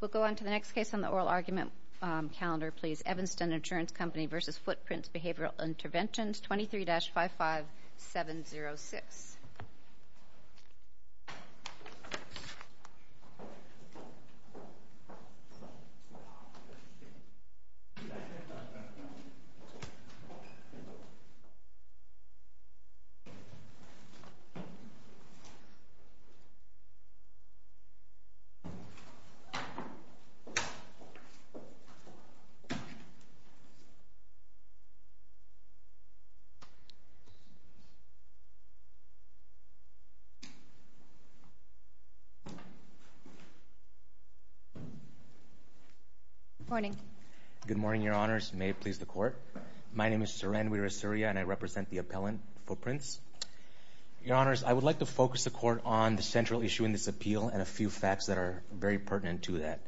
We'll go on to the next case on the oral argument calendar, please. Evanston Insurance Company v. Footprints Behavioral Interventions, 23-55706. Good morning. Good morning, Your Honors. May it please the Court. My name is Soren Wirasuria, and I represent the appellant, Footprints. Your Honors, I would like to focus the Court on the central issue in this appeal and a matter very pertinent to that.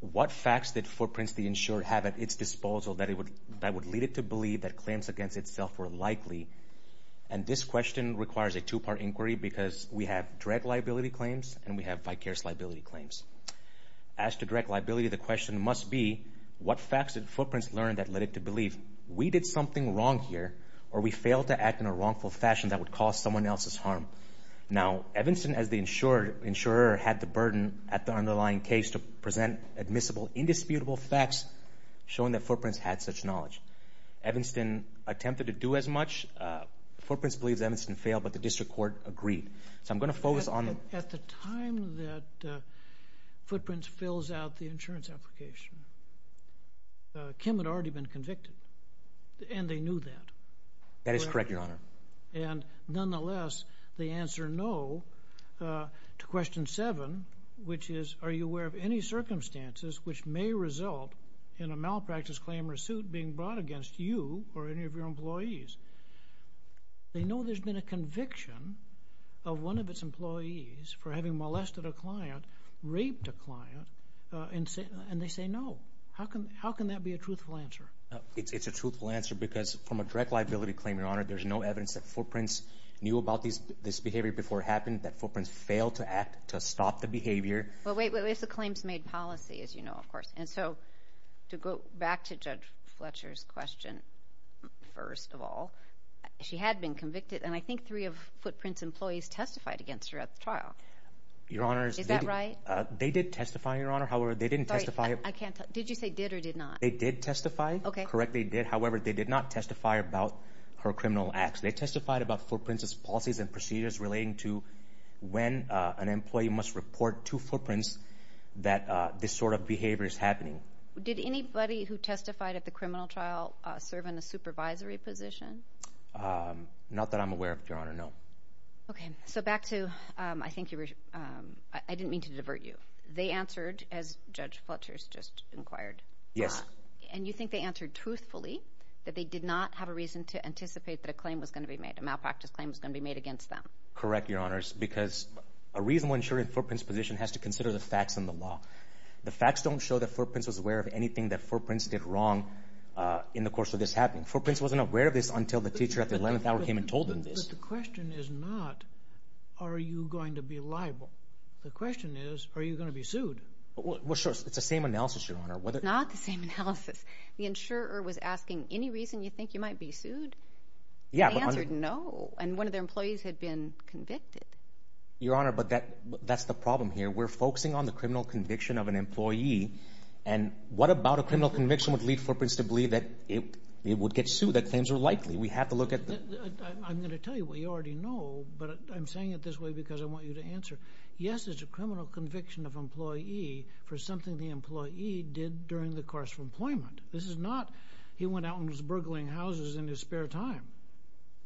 What facts did Footprints, the insurer, have at its disposal that would lead it to believe that claims against itself were likely? And this question requires a two-part inquiry because we have direct liability claims and we have vicarious liability claims. As to direct liability, the question must be, what facts did Footprints learn that led it to believe we did something wrong here or we failed to act in a wrongful fashion that would cause someone else's harm? Now, Evanston, as the insurer, had the burden at the underlying case to present admissible, indisputable facts showing that Footprints had such knowledge. Evanston attempted to do as much. Footprints believes Evanston failed, but the District Court agreed. So, I'm going to focus on the… At the time that Footprints fills out the insurance application, Kim had already been convicted and they knew that. That is correct, Your Honor. And, nonetheless, they answer no to question seven, which is, are you aware of any circumstances which may result in a malpractice claim or suit being brought against you or any of your employees? They know there's been a conviction of one of its employees for having molested a client, raped a client, and they say no. How can that be a truthful answer? It's a truthful answer because from a direct liability claim, Your Honor, there's no evidence that Footprints knew about this behavior before it happened, that Footprints failed to act to stop the behavior. Well, wait, wait, wait. It's a claims-made policy, as you know, of course. And so, to go back to Judge Fletcher's question, first of all, she had been convicted and I think three of Footprints' employees testified against her at the trial. Your Honor… Is that right? They did testify, Your Honor. However, they didn't testify… Sorry, I can't… Did you say did or did not? They did testify. Okay. Correct. They did. However, they did not testify about her criminal acts. They testified about Footprints' policies and procedures relating to when an employee must report to Footprints that this sort of behavior is happening. Did anybody who testified at the criminal trial serve in a supervisory position? Not that I'm aware of, Your Honor, no. Okay. So, back to… I think you were… I didn't mean to divert you. They answered, as Judge Fletcher's just inquired. Yes. And you think they answered truthfully, that they did not have a reason to anticipate that a claim was going to be made, a malpractice claim was going to be made against them? Correct, Your Honors, because a reasonable insurer in Footprints' position has to consider the facts and the law. The facts don't show that Footprints was aware of anything that Footprints did wrong in the course of this happening. Footprints wasn't aware of this until the teacher at the 11th hour came and told them this. But the question is not, are you going to be liable? The question is, are you going to be sued? Well, sure. It's the same analysis, Your Honor. It's not the same analysis. The insurer was asking, any reason you think you might be sued? Yeah, but… They answered, no. And one of their employees had been convicted. Your Honor, but that's the problem here. We're focusing on the criminal conviction of an employee, and what about a criminal conviction would lead Footprints to believe that it would get sued, that claims were likely? We have to look at the… I'm going to tell you what you already know, but I'm saying it this way because I want you to answer. Yes, it's a criminal conviction of an employee for something the employee did during the course of employment. This is not, he went out and was burgling houses in his spare time.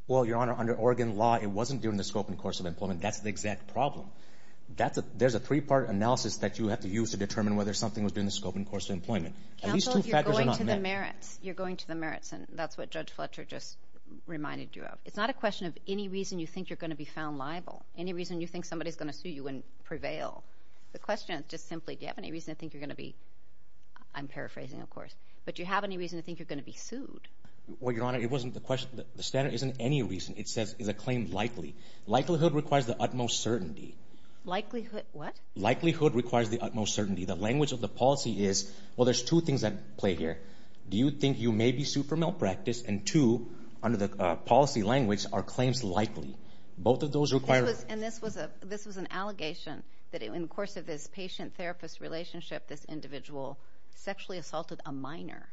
Well, Your Honor, under Oregon law, it wasn't during the scope and course of employment. That's the exact problem. There's a three-part analysis that you have to use to determine whether something was during the scope and course of employment. At least two factors are not met. Counsel, you're going to the merits. You're going to the merits, and that's what Judge Fletcher just reminded you of. It's not a question of any reason you think you're going to be found liable. Any reason you think somebody's going to sue you and prevail. The question is just simply, do you have any reason to think you're going to be, I'm paraphrasing of course, but do you have any reason to think you're going to be sued? Well, Your Honor, it wasn't the question, the standard isn't any reason. It says, is a claim likely? Likelihood requires the utmost certainty. Likelihood, what? Likelihood requires the utmost certainty. The language of the policy is, well, there's two things at play here. Do you think you may be sued for malpractice? And two, under the policy language, are claims likely. Both of those require... And this was an allegation that in the course of this patient-therapist relationship, this individual sexually assaulted a minor.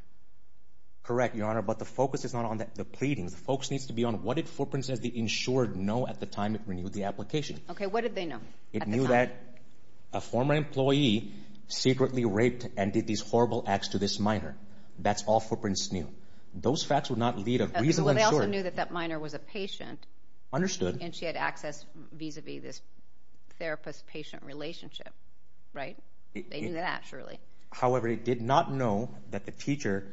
Correct, Your Honor, but the focus is not on the pleadings. The focus needs to be on what did Footprints as the insured know at the time it renewed the application. Okay, what did they know at the time? It knew that a former employee secretly raped and did these horrible acts to this minor. That's all Footprints knew. Those facts would not lead a reasonable insurer... Well, they also knew that that minor was a patient. Understood. And she had access vis-a-vis this therapist-patient relationship, right? They knew that, surely. However, it did not know that the teacher,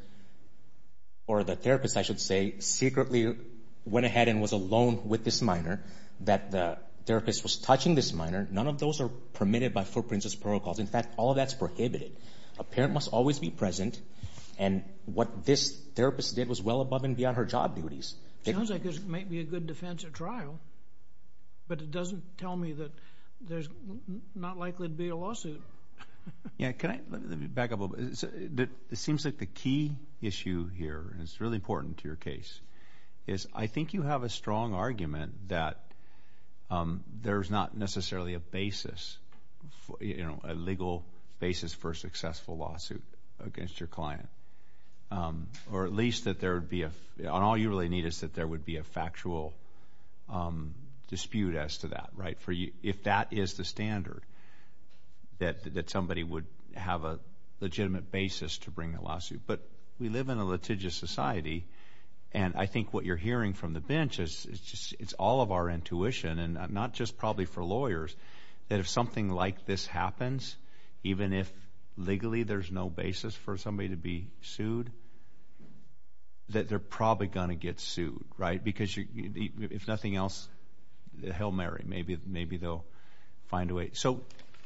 or the therapist, I should say, secretly went ahead and was alone with this minor, that the therapist was touching this minor. None of those are permitted by Footprints' protocols. In fact, all of that's prohibited. A parent must always be present, and what this therapist did was well above and beyond her job duties. It sounds like there might be a good defense at trial, but it doesn't tell me that there's not likely to be a lawsuit. Yeah, can I, let me back up a little bit. It seems like the key issue here, and it's really important to your case, is I think you have a strong argument that there's not necessarily a basis, you know, a legal basis for a successful lawsuit against your client, or at least that there would be a, on all we really need is that there would be a factual dispute as to that, right? If that is the standard, that somebody would have a legitimate basis to bring a lawsuit. But we live in a litigious society, and I think what you're hearing from the bench is it's all of our intuition, and not just probably for lawyers, that if something like this happens, even if legally there's no basis for somebody to be sued, that they're probably going to get sued, right? Because if nothing else, hell marry, maybe they'll find a way. So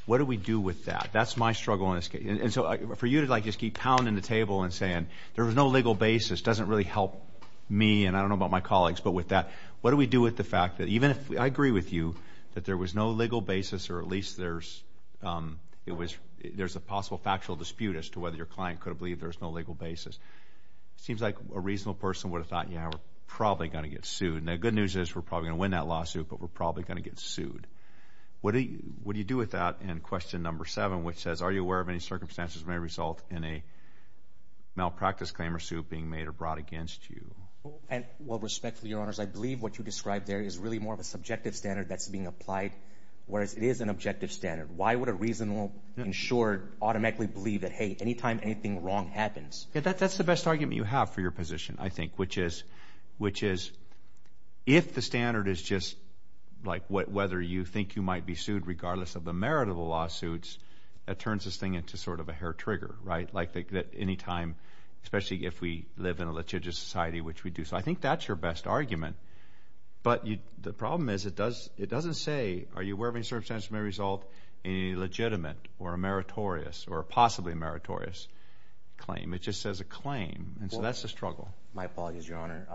what do we do with that? That's my struggle in this case. And so for you to like just keep pounding the table and saying there was no legal basis doesn't really help me, and I don't know about my colleagues, but with that, what do we do with the fact that even if I agree with you that there was no legal basis, or at least there's, it was, there's a possible factual dispute as to whether your client could have believed there was no legal basis. Seems like a reasonable person would have thought, yeah, we're probably going to get sued. Now the good news is we're probably going to win that lawsuit, but we're probably going to get sued. What do you do with that in question number seven, which says, are you aware of any circumstances that may result in a malpractice claim or suit being made or brought against you? Well, respectfully, your honors, I believe what you described there is really more of a subjective standard that's being applied, whereas it is an objective standard. Why would a reasonable insured automatically believe that, hey, anytime anything wrong happens? Yeah, that's the best argument you have for your position, I think, which is, which is if the standard is just like whether you think you might be sued regardless of the merit of the lawsuits, that turns this thing into sort of a hair trigger, right? Like that anytime, especially if we live in a litigious society, which we do. So I think that's your best argument. But the problem is it doesn't say, are you aware of any circumstances that may result in a legitimate or a meritorious or possibly meritorious claim. It just says a claim, and so that's the struggle. My apologies, your honor.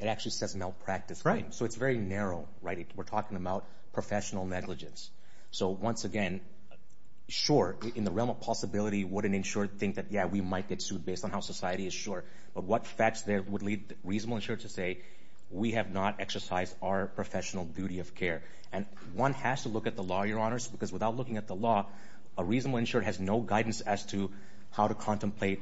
It actually says malpractice claim. So it's very narrow, right? We're talking about professional negligence. So once again, sure, in the realm of possibility, would an insured think that, yeah, we might get sued based on how society is sure, but what facts there would lead reasonable insured to say, we have not exercised our professional duty of care. And one has to look at the law, your honors, because without looking at the law, a reasonable insured has no guidance as to how to contemplate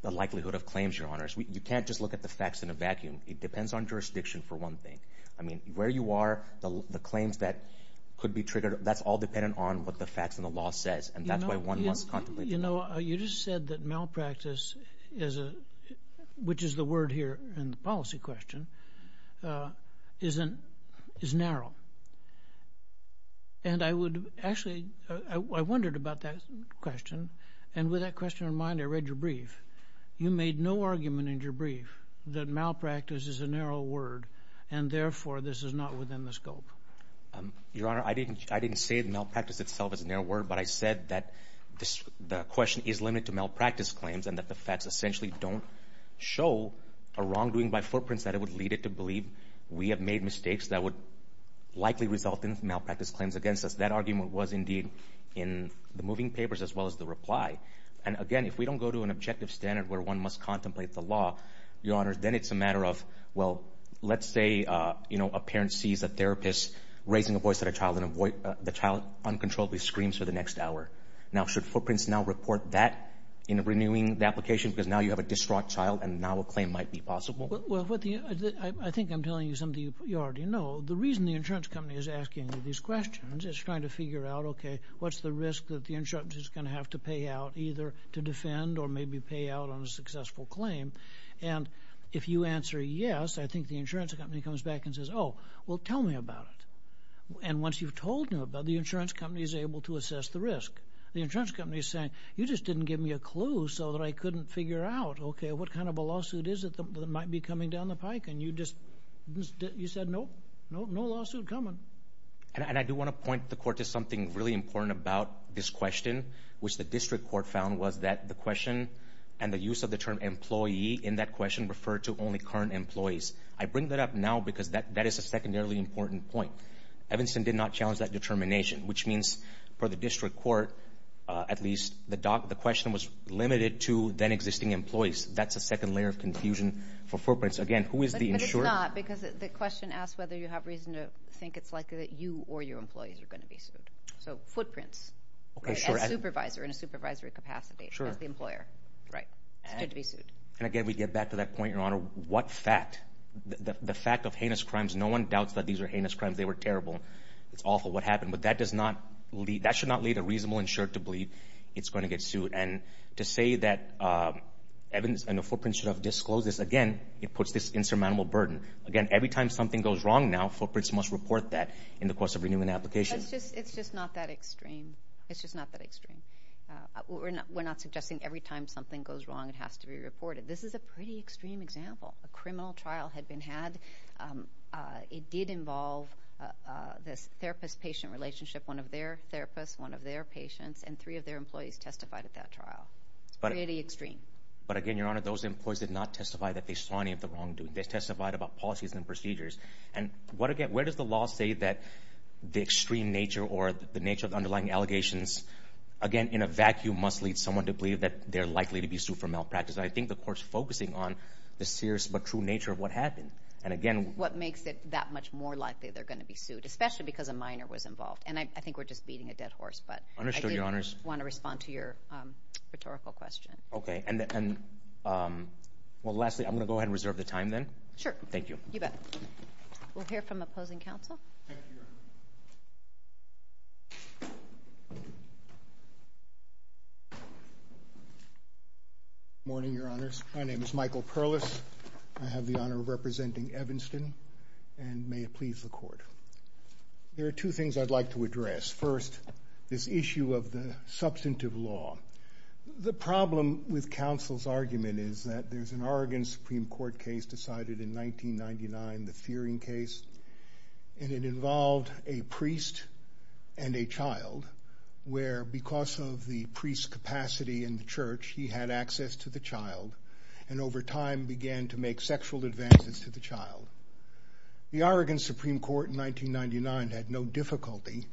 the likelihood of claims, your honors. You can't just look at the facts in a vacuum. It depends on jurisdiction, for one thing. I mean, where you are, the claims that could be triggered, that's all dependent on what the facts and the law says, and that's why one must contemplate. You know, you just said that malpractice is a, which is the word here in the policy question, is narrow. And I would, actually, I wondered about that question. And with that question in mind, I read your brief. You made no argument in your brief that malpractice is a narrow word, and therefore, this is not within the scope. Your honor, I didn't say malpractice itself is a narrow word, but I said that the question is limited to malpractice claims and that the facts essentially don't show a wrongdoing by footprints that it would lead it to believe we have made mistakes that would likely result in malpractice claims against us. That argument was indeed in the moving papers as well as the reply. And again, if we don't go to an objective standard where one must contemplate the law, your honor, then it's a matter of, well, let's say, you know, a parent sees a therapist raising a voice at a child and the child uncontrollably screams for the next hour. Now, should footprints now report that in renewing the application because now you have a distraught child and now a claim might be possible? Well, I think I'm telling you something you already know. The reason the insurance company is asking these questions is trying to figure out, okay, what's the risk that the insurance is going to have to pay out either to defend or maybe to pay out on a successful claim? And if you answer yes, I think the insurance company comes back and says, oh, well, tell me about it. And once you've told him about it, the insurance company is able to assess the risk. The insurance company is saying, you just didn't give me a clue so that I couldn't figure out, okay, what kind of a lawsuit is it that might be coming down the pike? And you just, you said, nope, no lawsuit coming. And I do want to point the court to something really important about this question, which the district court found was that the question and the use of the term employee in that question referred to only current employees. I bring that up now because that is a secondarily important point. Evanston did not challenge that determination, which means for the district court, at least the question was limited to then existing employees. That's a second layer of confusion for footprints. Again, who is the insurer? But it's not because the question asks whether you have reason to think it's likely that you or your employees are going to be sued. So, footprints. Okay, sure. As a supervisor, in a supervisory capacity, as the employer, it's good to be sued. And again, we get back to that point, Your Honor, what fact, the fact of heinous crimes, no one doubts that these are heinous crimes, they were terrible. It's awful what happened. But that does not lead, that should not lead a reasonable insurer to believe it's going to get sued. And to say that Evans and the footprints should have disclosed this, again, it puts this insurmountable burden. Again, every time something goes wrong now, footprints must report that in the course of renewing the application. It's just not that extreme. It's just not that extreme. We're not suggesting every time something goes wrong, it has to be reported. This is a pretty extreme example. A criminal trial had been had. It did involve this therapist-patient relationship. One of their therapists, one of their patients, and three of their employees testified at that trial. It's pretty extreme. But, again, Your Honor, those employees did not testify that they saw any of the wrongdoing. They testified about policies and procedures. And what, again, where does the law say that the extreme nature or the nature of the underlying allegations, again, in a vacuum, must lead someone to believe that they're likely to be sued for malpractice? And I think the Court's focusing on the serious but true nature of what happened. And, again— What makes it that much more likely they're going to be sued, especially because a minor was involved. And I think we're just beating a dead horse. But— Understood, Your Honors. I did want to respond to your rhetorical question. Okay. And, well, lastly, I'm going to go ahead and reserve the time, then. Sure. Thank you. You bet. We'll hear from opposing counsel. Thank you, Your Honor. Good morning, Your Honors. My name is Michael Perlis. I have the honor of representing Evanston. And may it please the Court. There are two things I'd like to address. First, this issue of the substantive law. The problem with counsel's argument is that there's an Oregon Supreme Court case decided in 1999, the Fearing case. And it involved a priest and a child where, because of the priest's capacity in the church, he had access to the child and, over time, began to make sexual advances to the child. The Oregon Supreme Court in 1999 had no difficulty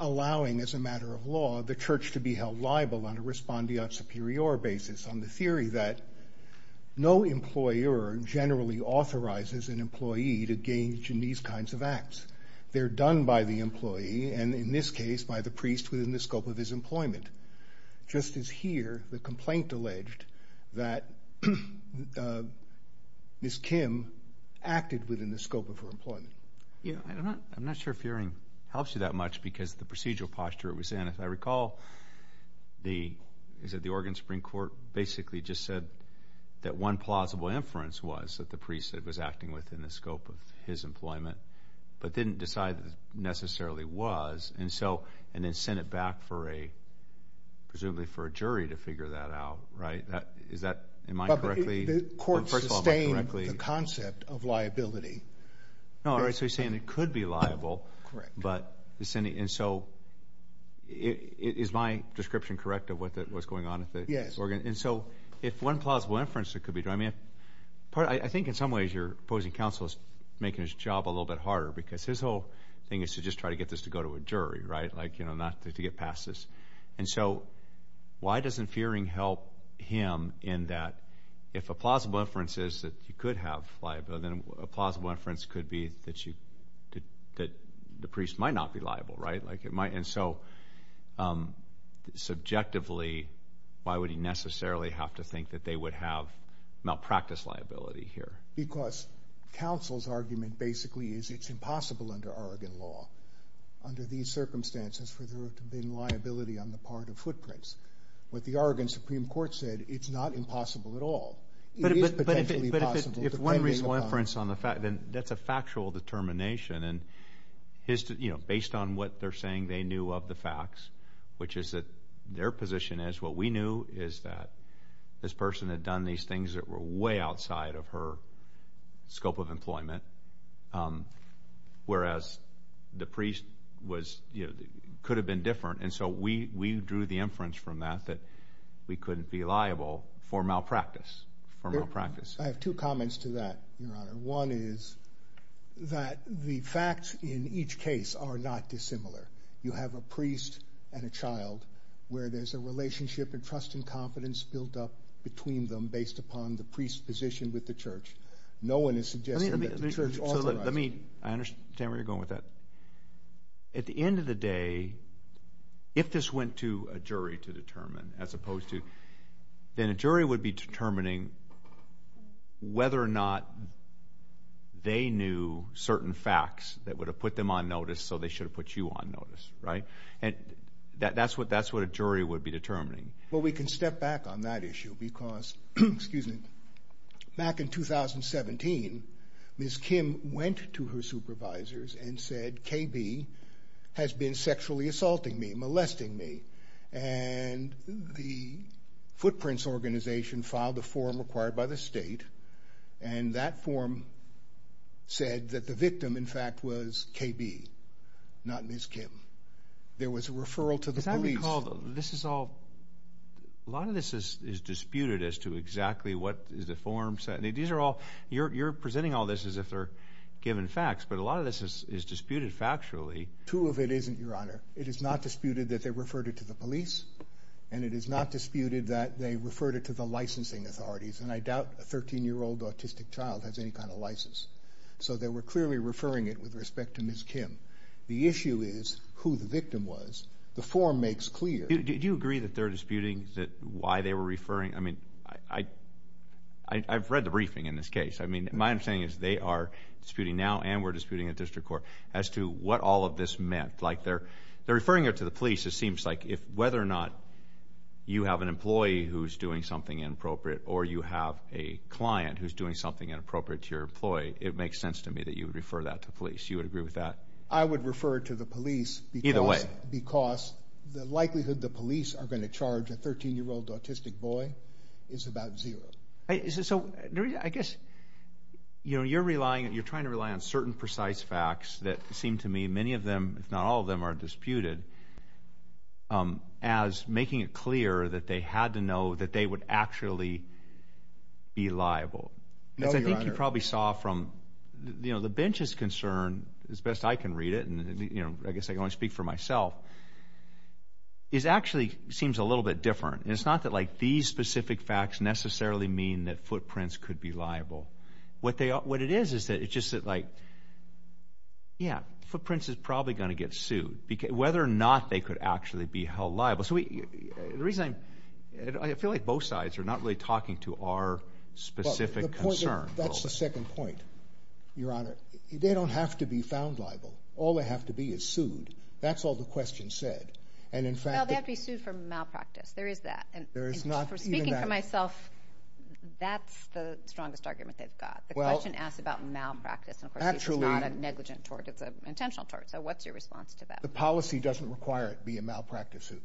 allowing, as a matter of law, the church to be held liable on a respondeat superior basis on the theory that no employer generally authorizes an employee to engage in these kinds of acts. They're done by the employee and, in this case, by the priest within the scope of his employment. Just as here, the complaint alleged that Ms. Kim acted within the scope of her employment. I'm not sure Fearing helps you that much because of the procedural posture it was in. And if I recall, the Oregon Supreme Court basically just said that one plausible inference was that the priest was acting within the scope of his employment, but didn't decide that it necessarily was. And then sent it back, presumably for a jury to figure that out. Am I correct? The Court sustained the concept of liability. So you're saying it could be liable. Correct. And so is my description correct of what's going on? Yes. And so if one plausible inference, it could be. I think in some ways your opposing counsel is making his job a little bit harder because his whole thing is to just try to get this to go to a jury, right? Like, you know, not to get past this. And so why doesn't Fearing help him in that if a plausible inference is that you could have liability, then a plausible inference could be that the priest might not be liable, right? And so subjectively, why would he necessarily have to think that they would have malpractice liability here? Because counsel's argument basically is it's impossible under Oregon law, under these circumstances, for there to have been liability on the part of footprints. What the Oregon Supreme Court said, it's not impossible at all. It is potentially possible. But if one reasonable inference on the fact, then that's a factual determination. And, you know, based on what they're saying they knew of the facts, which is that their position is what we knew is that this person had done these things that were way outside of her scope of employment, whereas the priest was, you know, could have been different. And so we drew the inference from that that we couldn't be liable for malpractice. I have two comments to that, Your Honor. One is that the facts in each case are not dissimilar. You have a priest and a child where there's a relationship and trust and confidence built up between them based upon the priest's position with the church. No one is suggesting that the church authorizes it. I understand where you're going with that. At the end of the day, if this went to a jury to determine as opposed to, then a jury would be determining whether or not they knew certain facts that would have put them on notice so they should have put you on notice, right? And that's what a jury would be determining. Well, we can step back on that issue because, excuse me, back in 2017, Ms. Kim went to her supervisors and said, KB has been sexually assaulting me, molesting me. And the Footprints Organization filed a form required by the state and that form said that the victim, in fact, was KB, not Ms. Kim. There was a referral to the police. A lot of this is disputed as to exactly what the form said. You're presenting all this as if they're given facts, but a lot of this is disputed factually. Two of it isn't, Your Honor. It is not disputed that they referred it to the police and it is not disputed that they referred it to the licensing authorities. And I doubt a 13-year-old autistic child has any kind of license. So they were clearly referring it with respect to Ms. Kim. The issue is who the victim was. The form makes clear. Do you agree that they're disputing why they were referring? I mean, I've read the briefing in this case. I mean, my understanding is they are disputing now and we're disputing at district court as to what all of this meant. Like, they're referring it to the police. It seems like whether or not you have an employee who's doing something inappropriate or you have a client who's doing something inappropriate to your employee, it makes sense to me that you would refer that to police. You would agree with that? I would refer it to the police because the likelihood the police are going to charge a 13-year-old autistic boy is about zero. So, I guess, you know, you're relying, you're trying to rely on certain precise facts that seem to me many of them, if not all of them, are disputed as making it clear that they had to know that they would actually be liable. No, Your Honor. Because I think you probably saw from, you know, the bench's concern, as best I can read it, and, you know, I guess I can only speak for myself, it actually seems a little bit different. It's not that, like, these specific facts necessarily mean that footprints could be liable. What it is is that it's just like, yeah, footprints is probably going to get sued. Whether or not they could actually be held liable. The reason I'm, I feel like both sides are not really talking to our specific concern. That's the second point, Your Honor. They don't have to be found liable. All they have to be is sued. That's all the question said. Well, they have to be sued for malpractice. There is that. Speaking for myself, that's the strongest argument they've got. The question asks about malpractice. And, of course, it's not a negligent tort. It's an intentional tort. So what's your response to that? The policy doesn't require it to be a malpractice suit.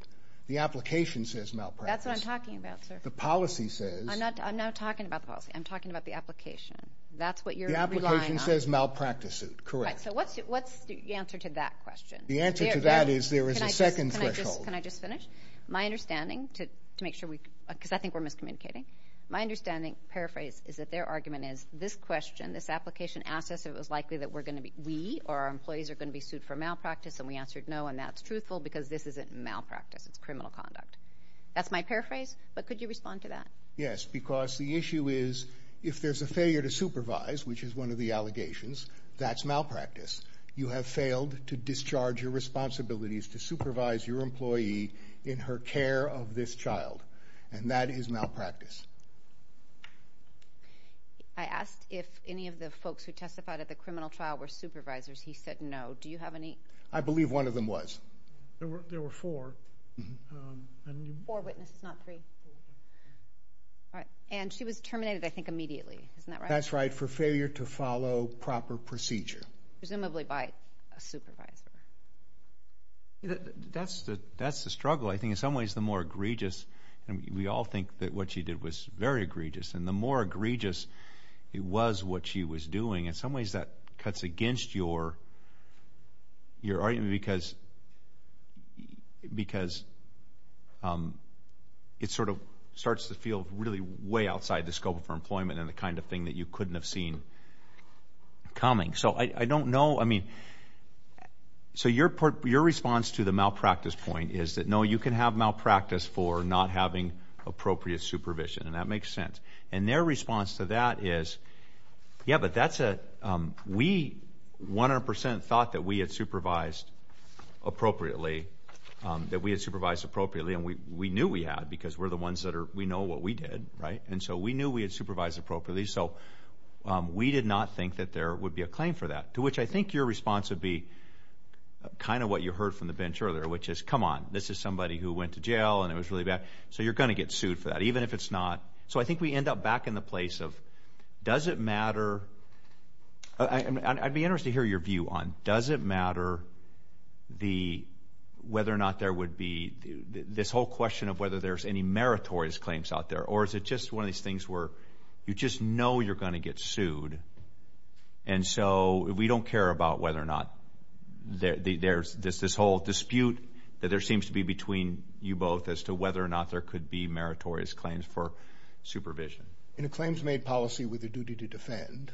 The application says malpractice. That's what I'm talking about, sir. The policy says. I'm not talking about the policy. I'm talking about the application. That's what you're relying on. The application says malpractice suit. Correct. So what's the answer to that question? The answer to that is there is a second threshold. Can I just finish? My understanding, to make sure we. Because I think we're miscommunicating. My understanding. Paraphrase. Is that their argument is this question. This application asks us if it was likely that we're going to be. We or our employees are going to be sued for malpractice. And we answered no. And that's truthful. Because this isn't malpractice. It's criminal conduct. That's my paraphrase. But could you respond to that? Yes. Because the issue is. If there's a failure to supervise. Which is one of the allegations. That's malpractice. You have failed to discharge your responsibilities. To supervise your employee. In her care of this child. And that is malpractice. I asked if any of the folks. Who testified at the criminal trial. Were supervisors. He said no. Do you have any? I believe one of them was. There were four. Four witnesses. Not three. And she was terminated. I think immediately. Isn't that right? That's right. For failure to follow proper procedure. Presumably. Presumably by a supervisor. That's the struggle. I think in some ways. The more egregious. And we all think that what she did. Was very egregious. And the more egregious it was. What she was doing. In some ways. That cuts against your argument. Because it sort of starts to feel. Really way outside the scope of her employment. And the kind of thing. That you couldn't have seen coming. So I don't know. I mean. So your response to the malpractice point. Is that no. You can have malpractice. For not having appropriate supervision. And that makes sense. And their response to that is. Yeah. But that's a. We 100 percent thought that we had supervised. Appropriately. That we had supervised appropriately. And we knew we had. Because we're the ones that are. We know what we did. Right. So. We did not think that there would be a claim for that. To which I think your response is. Your response would be. Kind of what you heard from the bench earlier. Which is. Come on. This is somebody who went to jail. And it was really bad. So you're going to get sued for that. Even if it's not. So I think we end up back in the place of. Does it matter. I'd be interested to hear your view on. Does it matter. The. Whether or not there would be. This whole question of whether there's any. Meritorious claims out there. Or is it just one of these things where. You just know you're going to get sued. And so. We don't care about whether or not. There's this. This whole dispute. That there seems to be between. You both. As to whether or not there could be. Meritorious claims for. Supervision. In a claims made policy with a duty to defend.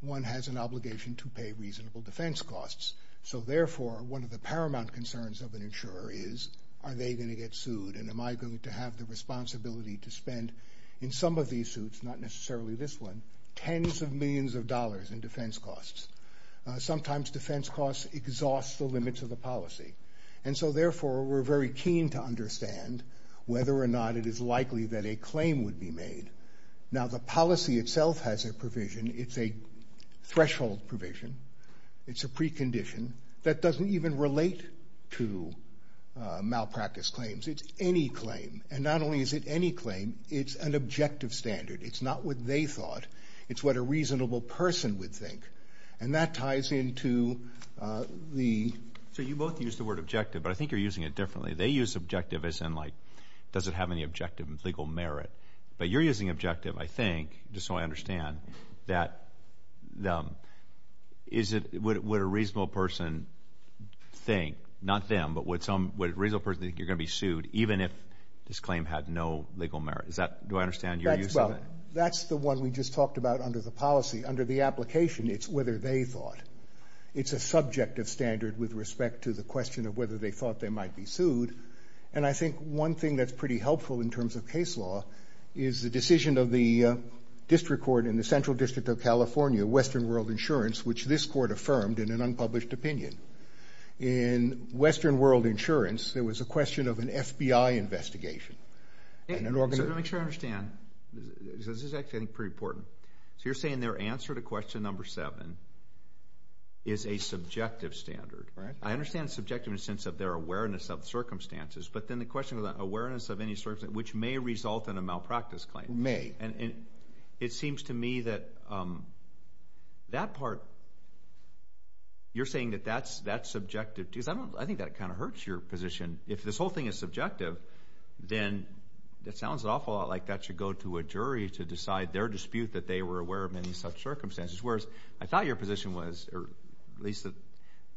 One has an obligation to pay reasonable defense costs. So therefore. One of the paramount concerns of an insurer is. Are they going to get sued. And am I going to have the responsibility to spend. In some of these suits. Not necessarily this one. Tens of millions of dollars in defense costs. Sometimes defense costs. Exhaust the limits of the policy. And so therefore. We're very keen to understand. Whether or not it is likely that a claim would be made. Now the policy itself has a provision. It's a. Threshold provision. It's a precondition. That doesn't even relate. To. Malpractice claims. It's any claim. And not only is it any claim. It's an objective standard. It's not what they thought. It's what a reasonable person would think. And that ties into. The. So you both use the word objective. But I think you're using it differently. They use objective as in like. Does it have any objective and legal merit. But you're using objective. I think. Just so I understand. That. Is it. Would a reasonable person. Think. Not them. But would some. Would a reasonable person. Think you're going to be sued. Even if. This claim had no legal merit. Is that. Do I understand your use of it. That's the one we just talked about. Under the policy. Under the application. It's whether they thought. It's a subjective standard. With respect to the question. Of whether they thought. They might be sued. And I think. One thing. That's pretty helpful. In terms of case law. Is the decision. Of the. District court. In the central district. Of California. Western world insurance. Which this court affirmed. In an unpublished opinion. In. Western world insurance. There was a question. Of an FBI investigation. And an. Organizer. Make sure I understand. This is actually. Pretty important. So you're saying. Their answer. To question. Number seven. Is a subjective. Standard. Right. I understand. Subjective. In a sense. Of their awareness. Of circumstances. But then the question. Of the awareness. Of any. Circumstance. Which may result. In a malpractice claim. May. And. It seems to me. That. That part. You're saying. That that's. That's subjective. Because I don't. I think. That kind of hurts. Your position. If this whole thing. Is subjective. Then. That sounds. Awful. Like that. Should go to a jury. To decide. Their dispute. That they were aware of. Many such circumstances. Whereas. I thought your position was. At least.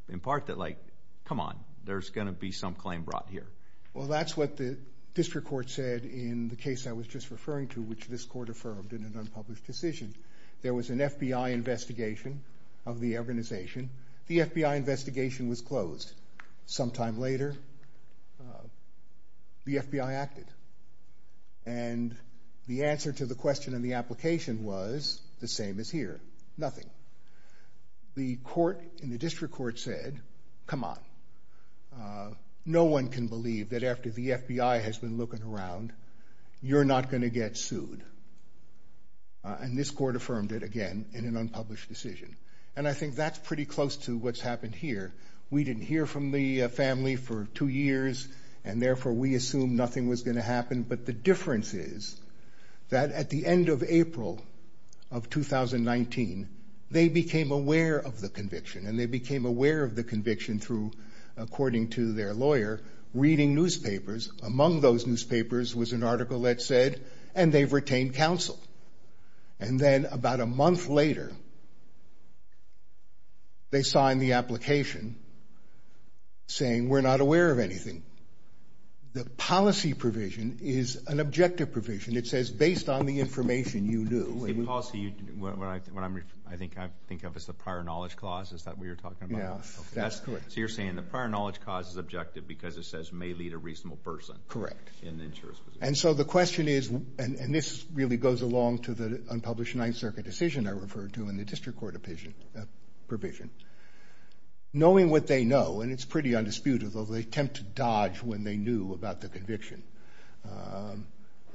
In part. That like. Come on. There's going to be some. Claim brought here. Well that's what the. District court said. In the case. I was just referring to. Which this court affirmed. In an unpublished decision. There was an FBI investigation. Of the organization. The FBI investigation. Was closed. Sometime later. The FBI acted. And. The answer. To the question. In the application. Was. The same as here. Nothing. The court. In the district court. Said. Come on. No one can believe. That after the FBI. Has been looking around. You're not going to get sued. And this court. Affirmed it. And I think. That's pretty close. To what's happened here. We didn't hear. From the family. For. Two years. But. The FBI. Has been looking around. For two years. And therefore. We assume. Nothing was going to happen. But the difference is. That at the end of April. Of 2019. They became aware. Of the conviction. And they became aware. Of the conviction. Through. According to their lawyer. Reading newspapers. Among those newspapers. And we're not going to get sued. And we're not going to get sued. And we're not going to get sued. And we're not going to get sued. And we're not going to get sued. And we didn't hear. Of anything. The policy provision. Is an objective provision. It says based on the information. You knew. The policy. You. What I think. I'm thinking of. Is the prior knowledge clause. Is that what you're talking about? Yeah that's. Correct. So you're saying the prior knowledge cause. Is objective. Because it says may lead a reasonable person. Correct. And so the question is. And this. Really goes along to the. Unpublished 9th. Circuit decision. Are referred to in the district court. Opinion. Provision. Knowing what they know. And it's pretty undisputed. Although they. Attempt to dodge. When they knew. About the conviction.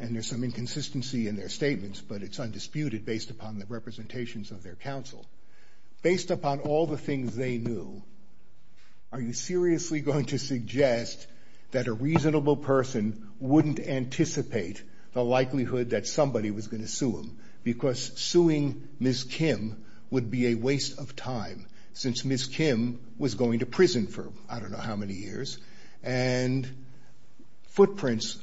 And there's. Some inconsistency. In their statements. But it's undisputed. Based upon. The representations. Of their counsel. Based upon. All the things. They knew. Are you seriously. Going to suggest. That a reasonable. Person. Wouldn't anticipate. The likelihood. That somebody. Was going to sue him. Because suing. Miss Kim. Would be a waste. Of time. Since Miss. Kim. Was going to prison. For I don't know. How many years. And. Footprints.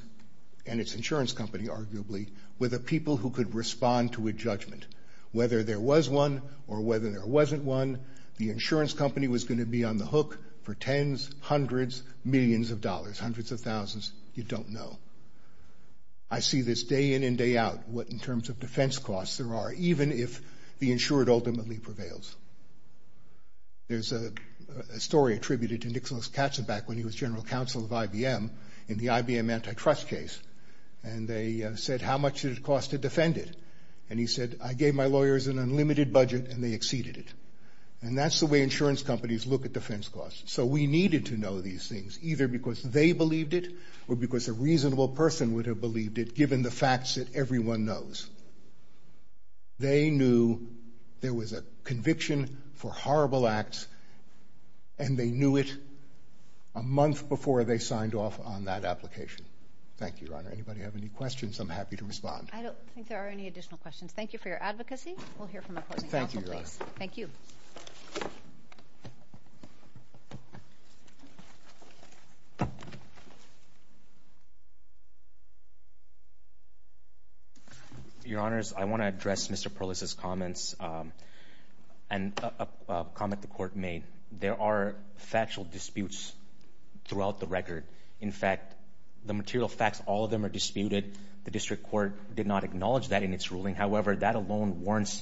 And it's insurance company. Arguably. With the people. Who could respond. To a judgment. Whether there was one. Or whether there wasn't one. The insurance company. Was going to be on the hook. For tens. Hundreds. Millions of dollars. Hundreds of thousands. You don't know. I see this. Day in and day out. What in terms of defense costs. There are. Even if. The insured. Ultimately prevails. There's. A story. Attributed. To Nicholas. Katsaback. When he was general counsel. Of IBM. In the IBM antitrust. Case. And they said. How much did it cost. To defend it. And he said. I gave my lawyers. An unlimited budget. And they exceeded it. And that's the way. Insurance companies. Look at defense costs. So we needed to know. These things. Either because. They believed it. Or because. A reasonable person. Would have believed it. Given the facts. That everyone knows. They knew. There was a. Conviction. For horrible acts. And they knew it. A month. Before they signed off. On that application. Thank you. Your honor. Anybody have any questions. I'm happy to respond. I don't. Think there are any additional questions. Thank you for your advocacy. We'll hear from the court. Thank you. Thank you. Thank you. Your honors. I want to address Mr. Perles' comments. And. A comment the court made. There are factual disputes. Throughout the record. In fact. The material facts. All of them are disputed. The district court. Did not acknowledge that in its ruling. However. That alone warrants.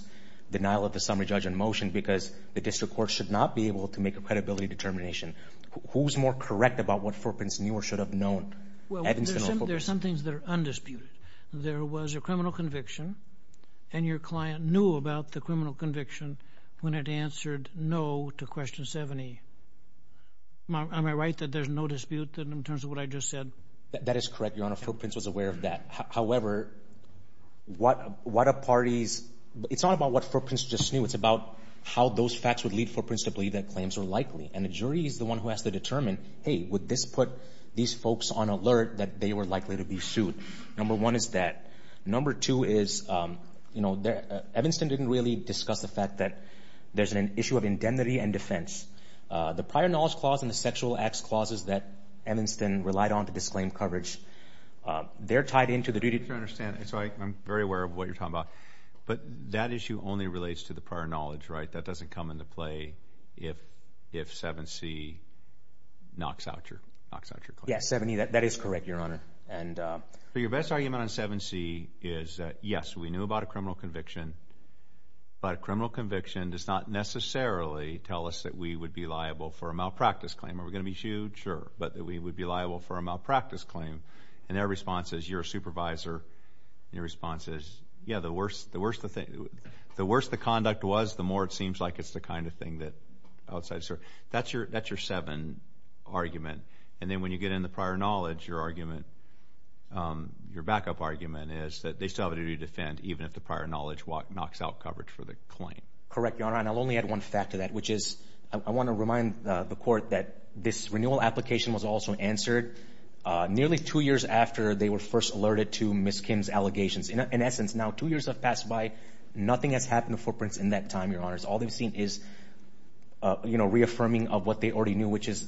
Denial of the summary judge in motion. Because. The district court should not be able. To make a credibility determination. Who's more correct about what. Four prints. Newer should have known. Well. There's some things that are. Undisputed. There was a criminal conviction. And your client. Knew about the criminal conviction. When it answered. No. To question 70. Am I right. That there's no dispute. That is correct. Your honor. Four prints was aware of that. However. What. What a party's. It's not a party's. It's not a party's. It's not about what four prints. Just knew. It's about. How those facts would lead. Four principally. That claims are likely. And the jury is the one who has to determine. Hey. Would this put. These folks on alert. That they were likely to be sued. Number one. Is that. Number two. Is. You know. There. Evanston didn't really discuss the fact that. There's an issue of indemnity. And defense. The prior knowledge clause. In the sexual acts clauses. That. Evanston relied on to disclaim coverage. They're tied into the duty. To understand. So I. I'm very aware of what you're talking about. But that issue only relates to the prior knowledge. Right? That doesn't come into play. If. If 7C. Knocks out your. Knocks out your claim. Yes. 7E. That is correct. Your honor. And. But your best argument on 7C. Is that. Yes. We knew about a criminal conviction. But a criminal conviction. Does not necessarily. Tell us that we would be liable. For a malpractice claim. Are we going to be sued? Sure. But that we would be liable. For a malpractice claim. And their response is. You're a supervisor. And your response is. Yeah. The worst. The worst. The thing. The worst the conduct was. The more it seems like. It's the kind of thing that. Outside. That's your. That's your 7. Argument. And then when you get in the prior knowledge. Your argument. Your backup argument. Is that. They still have a duty to defend. Even if the prior knowledge. Walk. Knocks out coverage for the claim. Correct. Your honor. And I'll only add one fact to that. Which is. I want to remind the court. That this renewal application. Was also answered. Nearly two years after. They were first alerted. To Ms. Kim's allegations. In essence. Now. Two years have passed by. Nothing has happened. The footprints. In that time. Your honors. All they've seen is. You know. Reaffirming of what they already knew. Which is.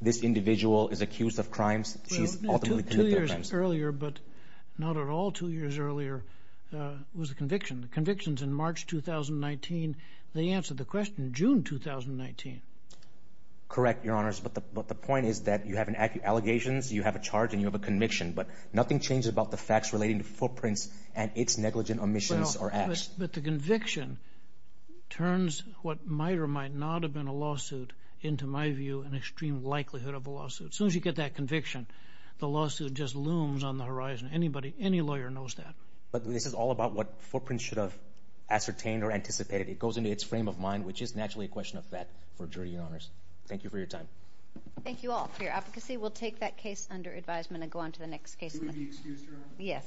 This individual. Is accused of crimes. She's. Ultimately. Two years earlier. But. Not at all. Two years earlier. Was the conviction. The convictions. In March 2019. They answered the question. June 2019. Correct. Your honors. But the. But the point is that. You have an. Allegations. You have a charge. And you have a conviction. But. Nothing changes about the facts. Relating to footprints. And it's negligent. Omissions. Or acts. But the conviction. Turns. What might or might not. Have been a lawsuit. Into my view. An extreme likelihood. Of a lawsuit. Soon as you get that conviction. The lawsuit. Just looms. On the horizon. Anybody. Any lawyer knows that. But this is all about. What footprints should have. Ascertained. Or anticipated. It goes into its frame of mind. Which is naturally. A question of fact. Thank you for your time. Thank you all. For your advocacy. We'll take that case. Under advisement. And go on to the next case. Excuse your honor. Yes.